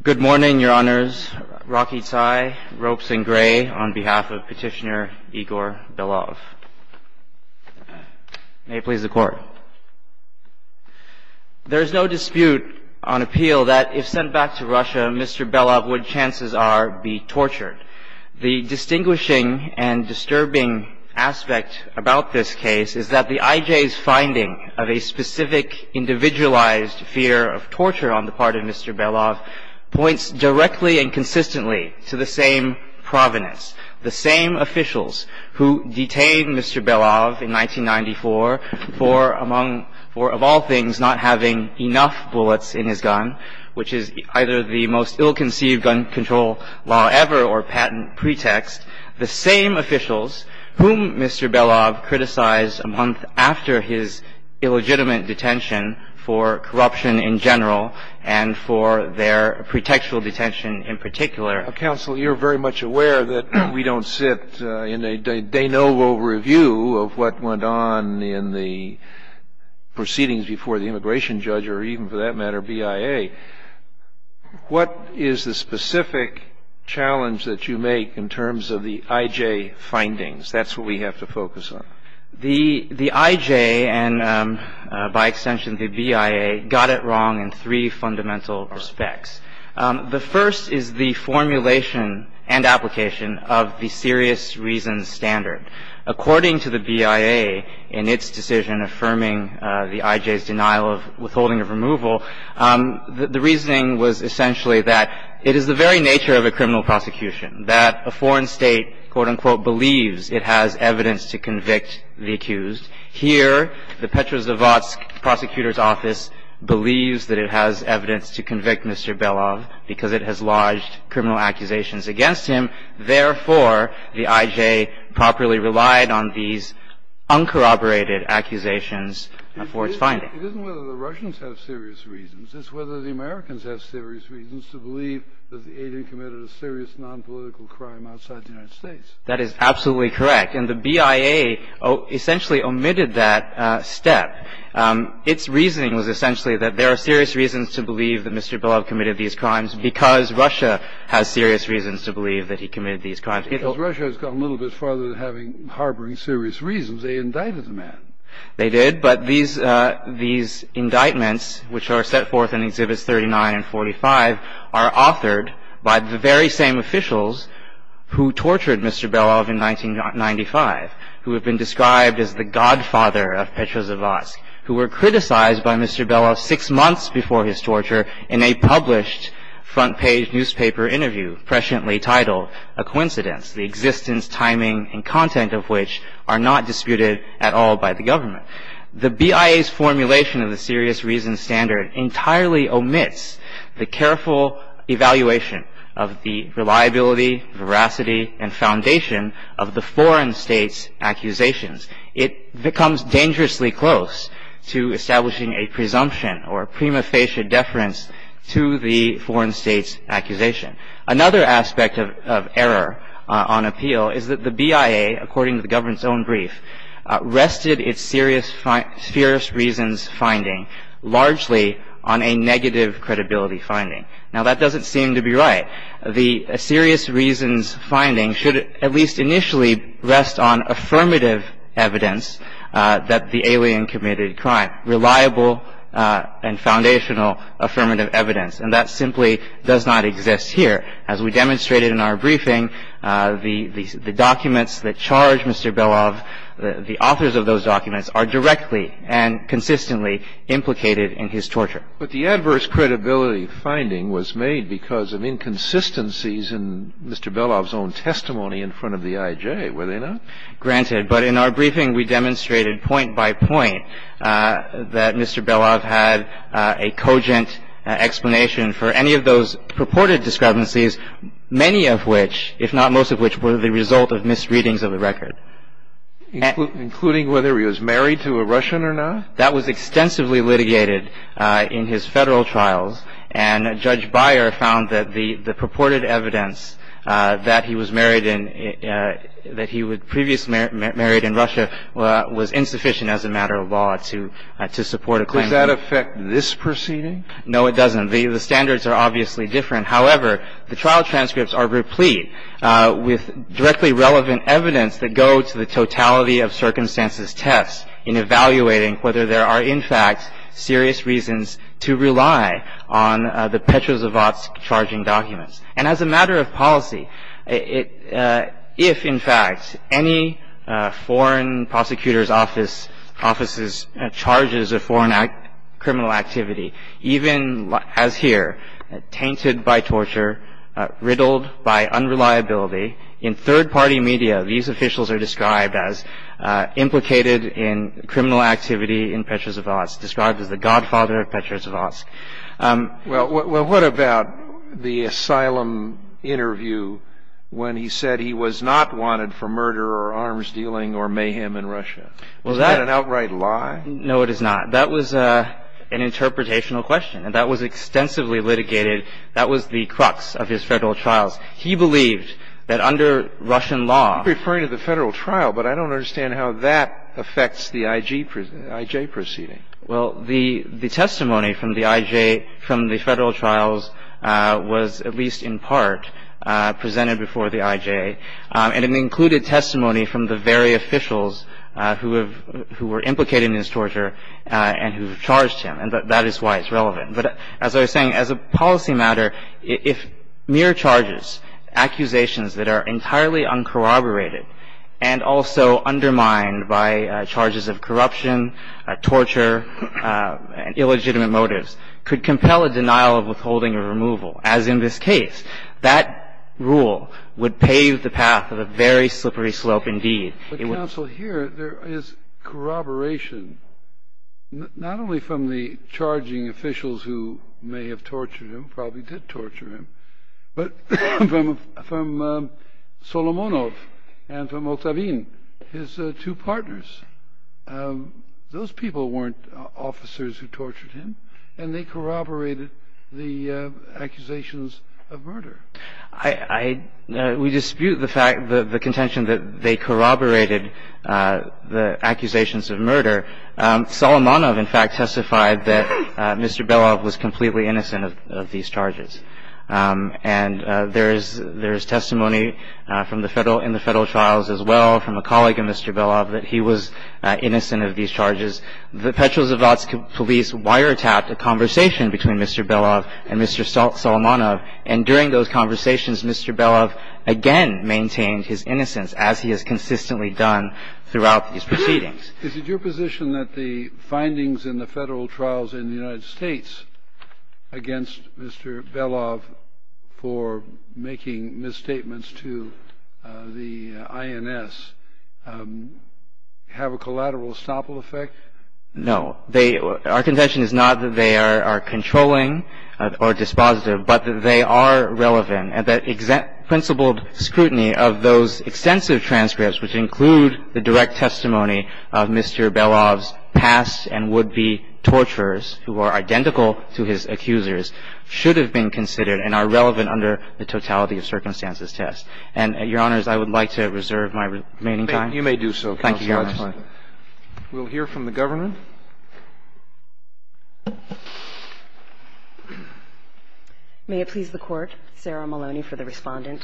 There is no dispute on appeal that if sent back to Russia, Mr. Belov would, chances are, be tortured. The distinguishing and disturbing aspect about this case is that the IJ's finding of a specific, individualized fear of torture on the part of Mr. Belov points directly and consistently to the same provenance, the same officials who detained Mr. Belov in 1994 for, of all things, not having enough bullets in his gun, which is either the most ill-conceived gun control law ever or patent pretext, the same officials whom Mr. Belov criticized a month after his illegitimate detention for corruption in general and for their pretextual detention in particular. Kennedy. Counsel, you're very much aware that we don't sit in a de novo review of what went on in the proceedings before the immigration judge or even, for that matter, BIA. What is the specific challenge that you make in terms of the IJ findings? That's what we have to focus on. The IJ and, by extension, the BIA got it wrong in three fundamental respects. The first is the formulation and application of the serious reasons standard. According to the BIA in its decision affirming the IJ's denial of withholding of removal, the reasoning was essentially that it is the very nature of a criminal prosecution that a foreign state, quote, unquote, believes it has evidence to convict the accused. Here, the Petrozavodsk prosecutor's office believes that it has evidence to convict Mr. Belov because it has lodged criminal accusations against him. Therefore, the IJ properly relied on these uncorroborated accusations for its findings. It isn't whether the Russians have serious reasons. It's whether the Americans have serious reasons to believe that the agent committed a serious nonpolitical crime outside the United States. That is absolutely correct. And the BIA essentially omitted that step. Its reasoning was essentially that there are serious reasons to believe that Mr. Belov committed these crimes because Russia has serious reasons to believe that he committed these crimes. Because Russia has gone a little bit farther than harboring serious reasons. They indicted the man. They did. But these indictments, which are set forth in Exhibits 39 and 45, are authored by the very same officials who tortured Mr. Belov in 1995, who have been described as the godfather of Petrozavodsk, who were criticized by Mr. Belov six months before his torture in a published front-page newspaper interview presciently titled A Coincidence, the existence, timing, and content of which are not disputed at all by the government. The BIA's formulation of the serious reasons standard entirely omits the careful evaluation of the reliability, veracity, and foundation of the foreign state's accusations. It becomes dangerously close to establishing a presumption or prima facie deference to the foreign state's accusation. Another aspect of error on appeal is that the BIA, according to the government's own brief, rested its serious reasons finding largely on a negative credibility finding. Now, that doesn't seem to be right. The serious reasons finding should at least initially rest on affirmative evidence that the alien committed a crime, reliable and foundational affirmative evidence. And that simply does not exist here. As we demonstrated in our briefing, the documents that charge Mr. Belov, the authors of those documents, are directly and consistently implicated in his torture. But the adverse credibility finding was made because of inconsistencies in Mr. Belov's own testimony in front of the IJ, were they not? Granted. But in our briefing, we demonstrated point by point that Mr. Belov had a cogent explanation for any of those purported discrepancies, many of which, if not most of which, were the result of misreadings of the record. Including whether he was married to a Russian or not? That was extensively litigated in his Federal trials. And Judge Beyer found that the purported evidence that he was married in, that he was previously married in Russia, was insufficient as a matter of law to support a claim. Does that affect this proceeding? No, it doesn't. The standards are obviously different. However, the trial transcripts are replete with directly relevant evidence that go to the totality of circumstances test in evaluating whether there are in fact serious reasons to rely on the Petrozavodsk charging documents. And as a matter of policy, if in fact any foreign prosecutor's office's charges of foreign criminal activity, even as here, tainted by torture, riddled by unreliability, in third-party media these officials are described as implicated in criminal activity in Petrozavodsk, described as the godfather of Petrozavodsk. Well, what about the asylum interview when he said he was not wanted for murder or arms-dealing or mayhem in Russia? Is that an outright lie? No, it is not. That was an interpretational question. And that was extensively litigated. That was the crux of his Federal trials. He believed that under Russian law ---- You're referring to the Federal trial, but I don't understand how that affects the I.J. proceeding. Well, the testimony from the I.J. from the Federal trials was at least in part presented before the I.J. and it included testimony from the very officials who have ---- who were implicated in his torture and who charged him. And that is why it's relevant. But as I was saying, as a policy matter, if mere charges, accusations that are entirely uncorroborated and also undermined by charges of corruption, torture, illegitimate motives, could compel a denial of withholding or removal, as in this case, that rule would pave the path of a very slippery slope indeed. It would ---- But, counsel, here there is corroboration not only from the charging officials who may have tortured him, probably did torture him, but from Solomonov and from Octavine, his two partners. Those people weren't officers who tortured him, and they corroborated the accusations of murder. I ---- we dispute the fact, the contention that they corroborated the accusations of murder. Solomonov, in fact, testified that Mr. Belov was completely innocent of these charges. And there is ---- there is testimony from the Federal ---- in the Federal trials as well from a colleague of Mr. Belov that he was innocent of these charges. The Petrozavodsk police wiretapped a conversation between Mr. Belov and Mr. Solomonov, and during those conversations, Mr. Belov again maintained his innocence as he has consistently done throughout these proceedings. Is it your position that the findings in the Federal trials in the United States against Mr. Belov for making misstatements to the INS have a collateral estoppel effect? No. They ---- our contention is not that they are controlling or dispositive, but that they are relevant, and that principled scrutiny of those extensive transcripts which include the direct testimony of Mr. Belov's past and would-be torturers who are identical to his accusers should have been considered and are relevant under the totality of circumstances test. And, Your Honors, I would like to reserve my remaining time. You may do so, Counsel. Thank you, Your Honors. We'll hear from the Governor. May it please the Court, Sarah Maloney for the Respondent.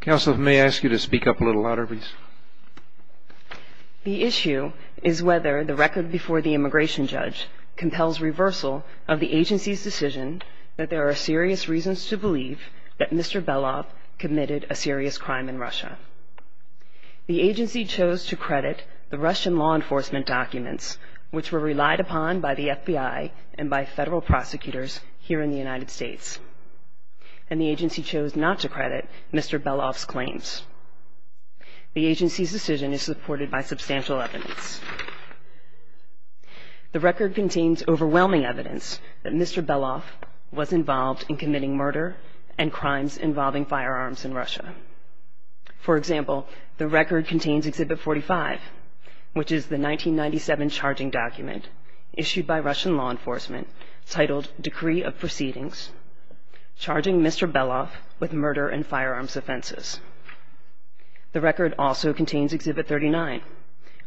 Counsel, may I ask you to speak up a little louder, please? The issue is whether the record before the immigration judge compels reversal of the agency's decision that there are serious reasons to believe that Mr. Belov committed a serious crime in Russia. The agency chose to credit the Russian law enforcement documents, which were relied upon by the FBI and by Federal prosecutors here in the United States. And the agency chose not to credit Mr. Belov's claims. The agency's decision is supported by substantial evidence. The record contains overwhelming evidence that Mr. Belov was involved in committing murder and crimes involving firearms in Russia. For example, the record contains Exhibit 45, which is the 1997 charging document issued by Russian law enforcement titled Decree of Proceedings Charging Mr. Belov with Murder and Firearms Offenses. The record also contains Exhibit 39,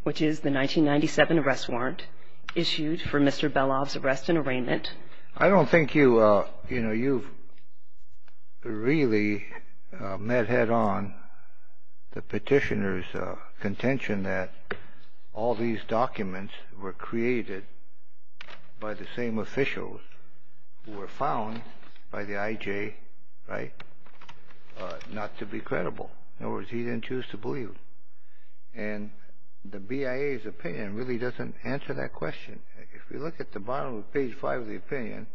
which is the 1997 arrest warrant issued for Mr. Belov's arrest and arraignment. I don't think you've really met head-on the petitioner's contention that all these documents were created by the same officials who were found by the IJ, right, not to be credible. In other words, he didn't choose to believe. And the BIA's opinion really doesn't answer that question. If you look at the bottom of page 5 of the opinion,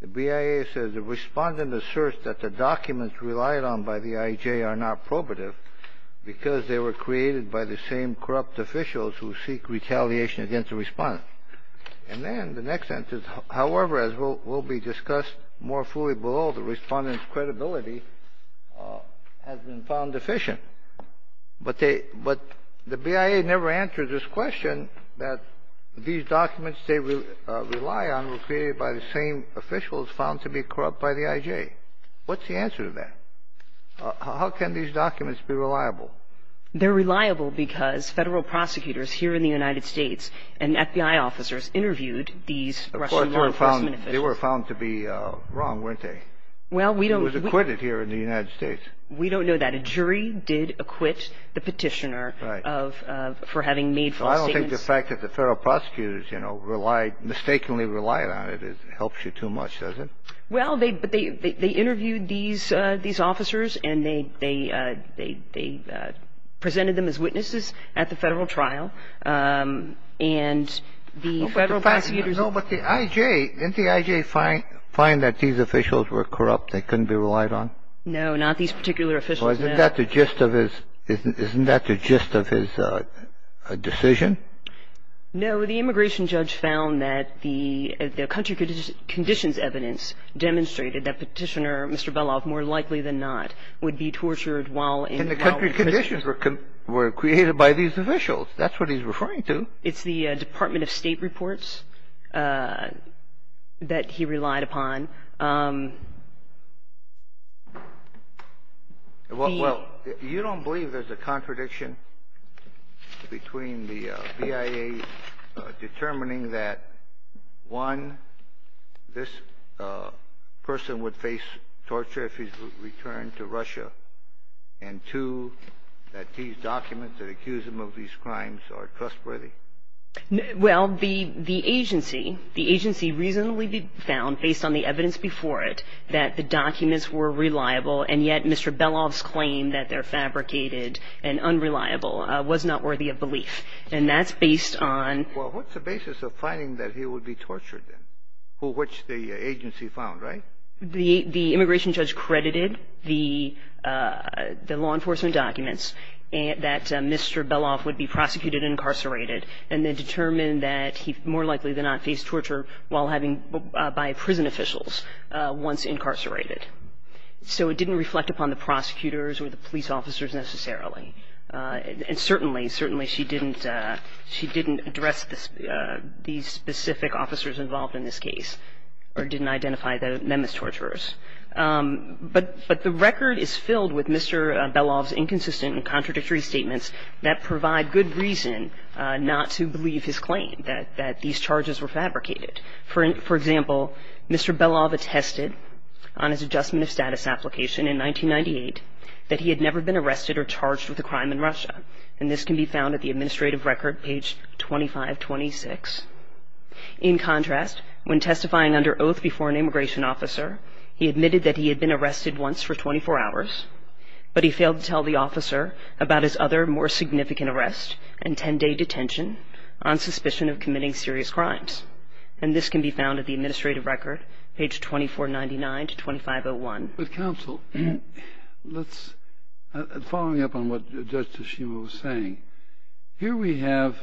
the BIA says the respondent asserts that the documents relied on by the IJ are not probative because they were created by the same corrupt officials who seek retaliation against the respondent. And then the next sentence, however, as will be discussed more fully below, the respondent's credibility has been found deficient. But they – but the BIA never answered this question that these documents they rely on were created by the same officials found to be corrupt by the IJ. What's the answer to that? How can these documents be reliable? They're reliable because federal prosecutors here in the United States and FBI officers interviewed these Russian law enforcement officials. They were found to be wrong, weren't they? Well, we don't – It was acquitted here in the United States. We don't know that. A jury did acquit the petitioner of – for having made false statements. So I don't think the fact that the federal prosecutors, you know, relied – mistakenly relied on it helps you too much, does it? Well, they – but they interviewed these officers and they presented them as witnesses at the federal trial. And the federal prosecutors – No, but the IJ – didn't the IJ find that these officials were corrupt, they couldn't be relied on? No, not these particular officials, no. Well, isn't that the gist of his – isn't that the gist of his decision? No, the immigration judge found that the country conditions evidence demonstrated that Petitioner Mr. Beloff, more likely than not, would be tortured while in – And the country conditions were created by these officials. That's what he's referring to. It's the Department of State reports that he relied upon. Well, you don't believe there's a contradiction between the BIA determining that, one, this person would face torture if he's returned to Russia, and, two, that these documents that accuse him of these crimes are trustworthy? Well, the agency – the agency reasonably found, based on the evidence before it, that the documents were reliable, and yet Mr. Beloff's claim that they're fabricated and unreliable was not worthy of belief. And that's based on – Well, what's the basis of finding that he would be tortured, then, which the agency found, right? Well, the immigration judge credited the law enforcement documents that Mr. Beloff would be prosecuted and incarcerated and then determined that he more likely than not faced torture while having – by prison officials once incarcerated. So it didn't reflect upon the prosecutors or the police officers necessarily. And certainly, certainly she didn't – she didn't address these specific officers involved in this case or didn't identify them as torturers. But the record is filled with Mr. Beloff's inconsistent and contradictory statements that provide good reason not to believe his claim that these charges were fabricated. For example, Mr. Beloff attested on his adjustment of status application in 1998 that he had never been arrested or charged with a crime in Russia. And this can be found at the administrative record, page 2526. In contrast, when testifying under oath before an immigration officer, he admitted that he had been arrested once for 24 hours, but he failed to tell the officer about his other more significant arrest and 10-day detention on suspicion of committing serious crimes. And this can be found at the administrative record, page 2499 to 2501. With counsel, let's – following up on what Judge Toshima was saying, here we have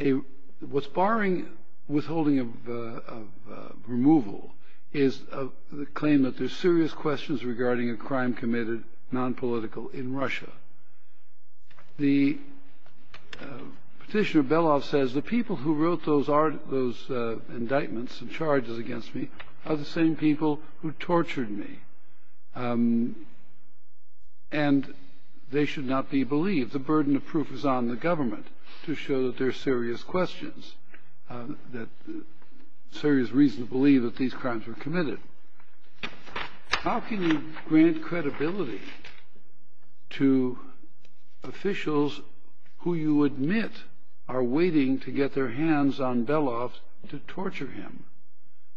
a – what's barring withholding of removal is the claim that there's serious questions regarding a crime committed, nonpolitical, in Russia. The Petitioner Beloff says the people who wrote those indictments and charges against me are the same people who tortured me. And they should not be believed. The burden of proof is on the government to show that there are serious questions, that serious reason to believe that these crimes were committed. How can you grant credibility to officials who you admit are waiting to get their hands on Beloff to torture him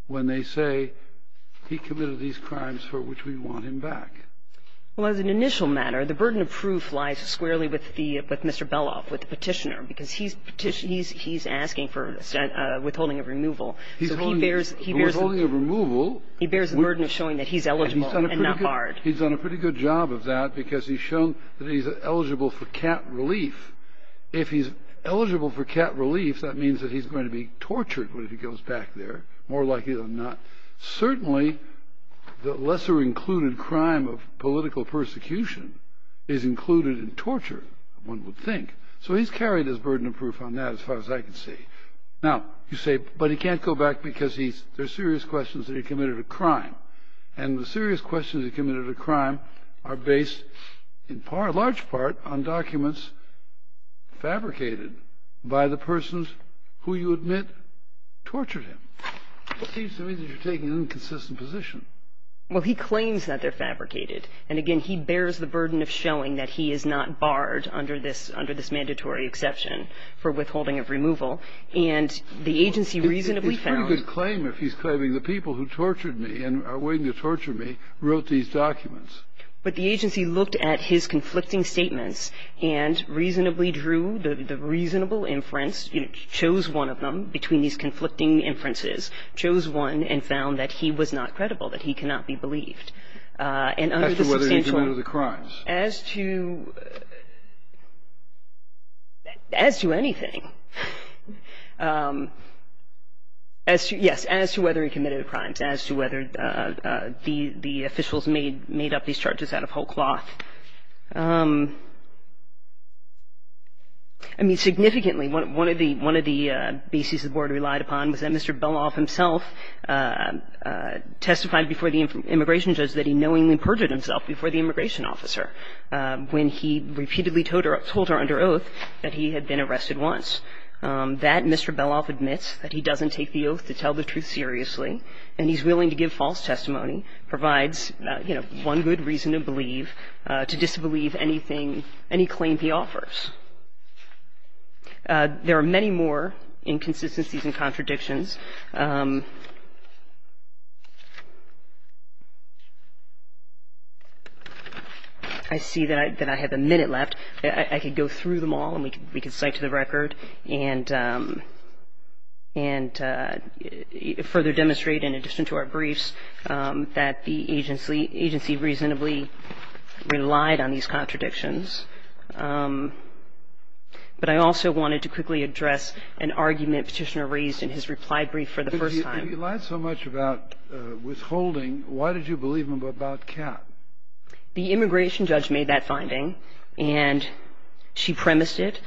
when they say he committed these crimes for which we want him back? Well, as an initial matter, the burden of proof lies squarely with the – with Mr. Beloff, with the Petitioner, because he's – he's asking for withholding of removal. He's holding – So he bears – he bears the – For withholding of removal – He bears the burden of showing that he's eligible and not barred. He's done a pretty good job of that because he's shown that he's eligible for cat relief. If he's eligible for cat relief, that means that he's going to be tortured when he goes back there, more likely than not. Certainly, the lesser included crime of political persecution is included in torture, one would think. So he's carried his burden of proof on that as far as I can see. Now, you say, but he can't go back because he's – there are serious questions that he committed a crime. And the serious questions he committed a crime are based in large part on documents fabricated by the persons who you admit tortured him. It seems to me that you're taking an inconsistent position. Well, he claims that they're fabricated. And, again, he bears the burden of showing that he is not barred under this – under this mandatory exception for withholding of removal. And the agency reasonably found – But the agency looked at his conflicting statements and reasonably drew the reasonable inference, chose one of them between these conflicting inferences, chose one and found that he was not credible, that he cannot be believed. And under the substantial – As to whether he committed the crimes. As to – as to anything. As to – yes, as to whether he committed the crimes, as to whether the officials made up these charges out of whole cloth. I mean, significantly, one of the – one of the bases the Board relied upon was that Mr. Beloff himself testified before the immigration judge that he knowingly perjured himself before the immigration officer when he repeatedly told her – told her under oath that he had been arrested once. That Mr. Beloff admits that he doesn't take the oath to tell the truth seriously and he's willing to give false testimony provides, you know, one good reason to believe – to disbelieve anything – any claim he offers. There are many more inconsistencies and contradictions. I see that I – that I have a minute left. I could go through them all and we could cite to the record and further demonstrate in addition to our briefs that the agency reasonably relied on these contradictions. But I also wanted to quickly address an argument Petitioner raised in his reply brief for the first time. If he lied so much about withholding, why did you believe him about Kat? The immigration judge made that finding and she premised it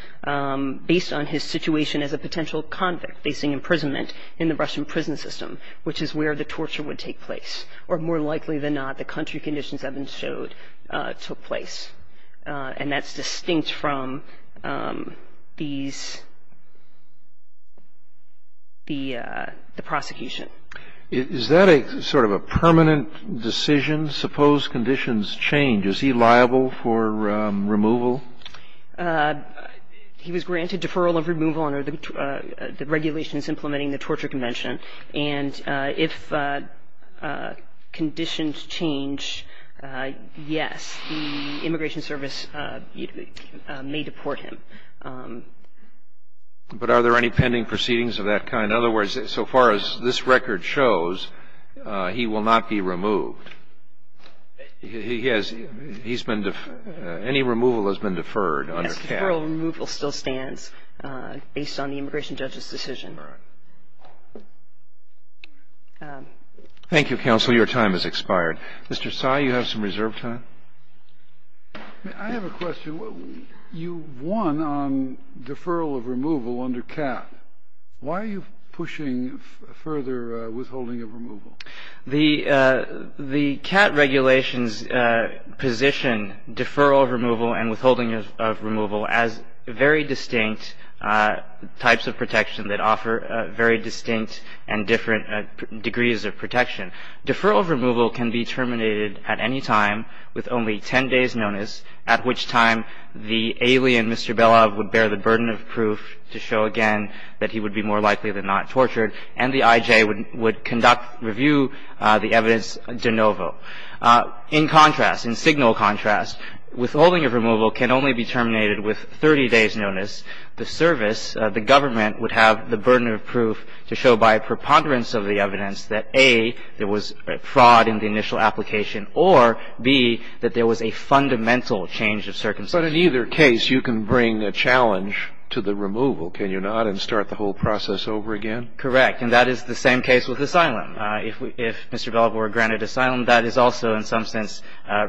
based on his situation as a potential convict facing imprisonment in the Russian prison system, which is where the torture would take place. Or more likely than not, the country conditions Evans showed took place. And that's distinct from these – the prosecution. Is that a sort of a permanent decision? Suppose conditions change. Is he liable for removal? He was granted deferral of removal under the regulations implementing the torture convention. And if conditions change, yes, the immigration service may deport him. But are there any pending proceedings of that kind? In other words, so far as this record shows, he will not be removed. He has – he's been – any removal has been deferred under Kat. Yes, deferral of removal still stands based on the immigration judge's decision. Thank you, counsel. Your time has expired. Mr. Tsai, you have some reserve time? I have a question. You won on deferral of removal under Kat. Why are you pushing further withholding of removal? The Kat regulations position deferral of removal and withholding of removal as very distinct types of protection that offer very distinct and different degrees of protection. Deferral of removal can be terminated at any time with only 10 days' notice, at which time the alien, Mr. Belov, would bear the burden of proof to show again that he would be more likely than not tortured, and the I.J. would conduct – review the evidence de novo. In contrast, in signal contrast, withholding of removal can only be terminated with 30 days' notice. The service, the government, would have the burden of proof to show by preponderance of the evidence that, A, there was fraud in the initial application, or, B, that there was a fundamental change of circumstances. But in either case, you can bring a challenge to the removal, can you not, and start the whole process over again? Correct. And that is the same case with asylum. If Mr. Belov were granted asylum, that is also in some sense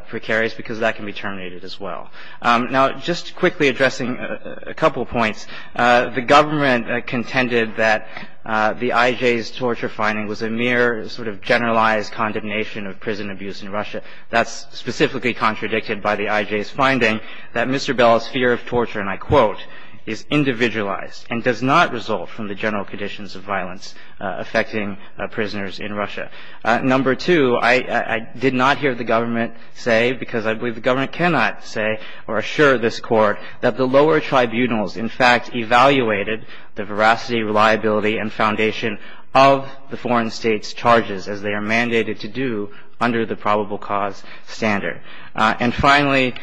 precarious because that can be terminated as well. Now, just quickly addressing a couple points, the government contended that the I.J.'s torture finding was a mere sort of generalized condemnation of prison abuse in Russia. That's specifically contradicted by the I.J.'s finding that Mr. Belov's fear of torture, and I quote, is individualized and does not result from the general conditions of violence affecting prisoners in Russia. Number two, I did not hear the government say, because I believe the government cannot say or assure this Court, of the foreign state's charges as they are mandated to do under the probable cause standard. And finally,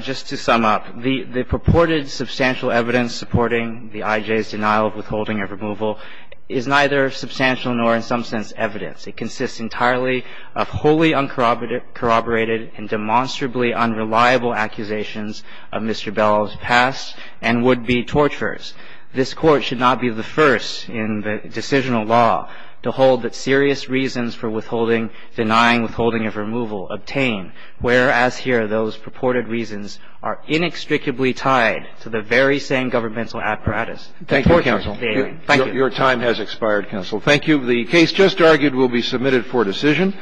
just to sum up, the purported substantial evidence supporting the I.J.'s denial of withholding or removal is neither substantial nor in some sense evidence. It consists entirely of wholly uncorroborated and demonstrably unreliable accusations of Mr. Belov's past and would-be torturers. This Court should not be the first in the decisional law to hold that serious reasons for withholding, denying withholding of removal, obtain, whereas here those purported reasons are inextricably tied to the very same governmental apparatus. Thank you, Counsel. Your time has expired, Counsel. Thank you. The case just argued will be submitted for decision.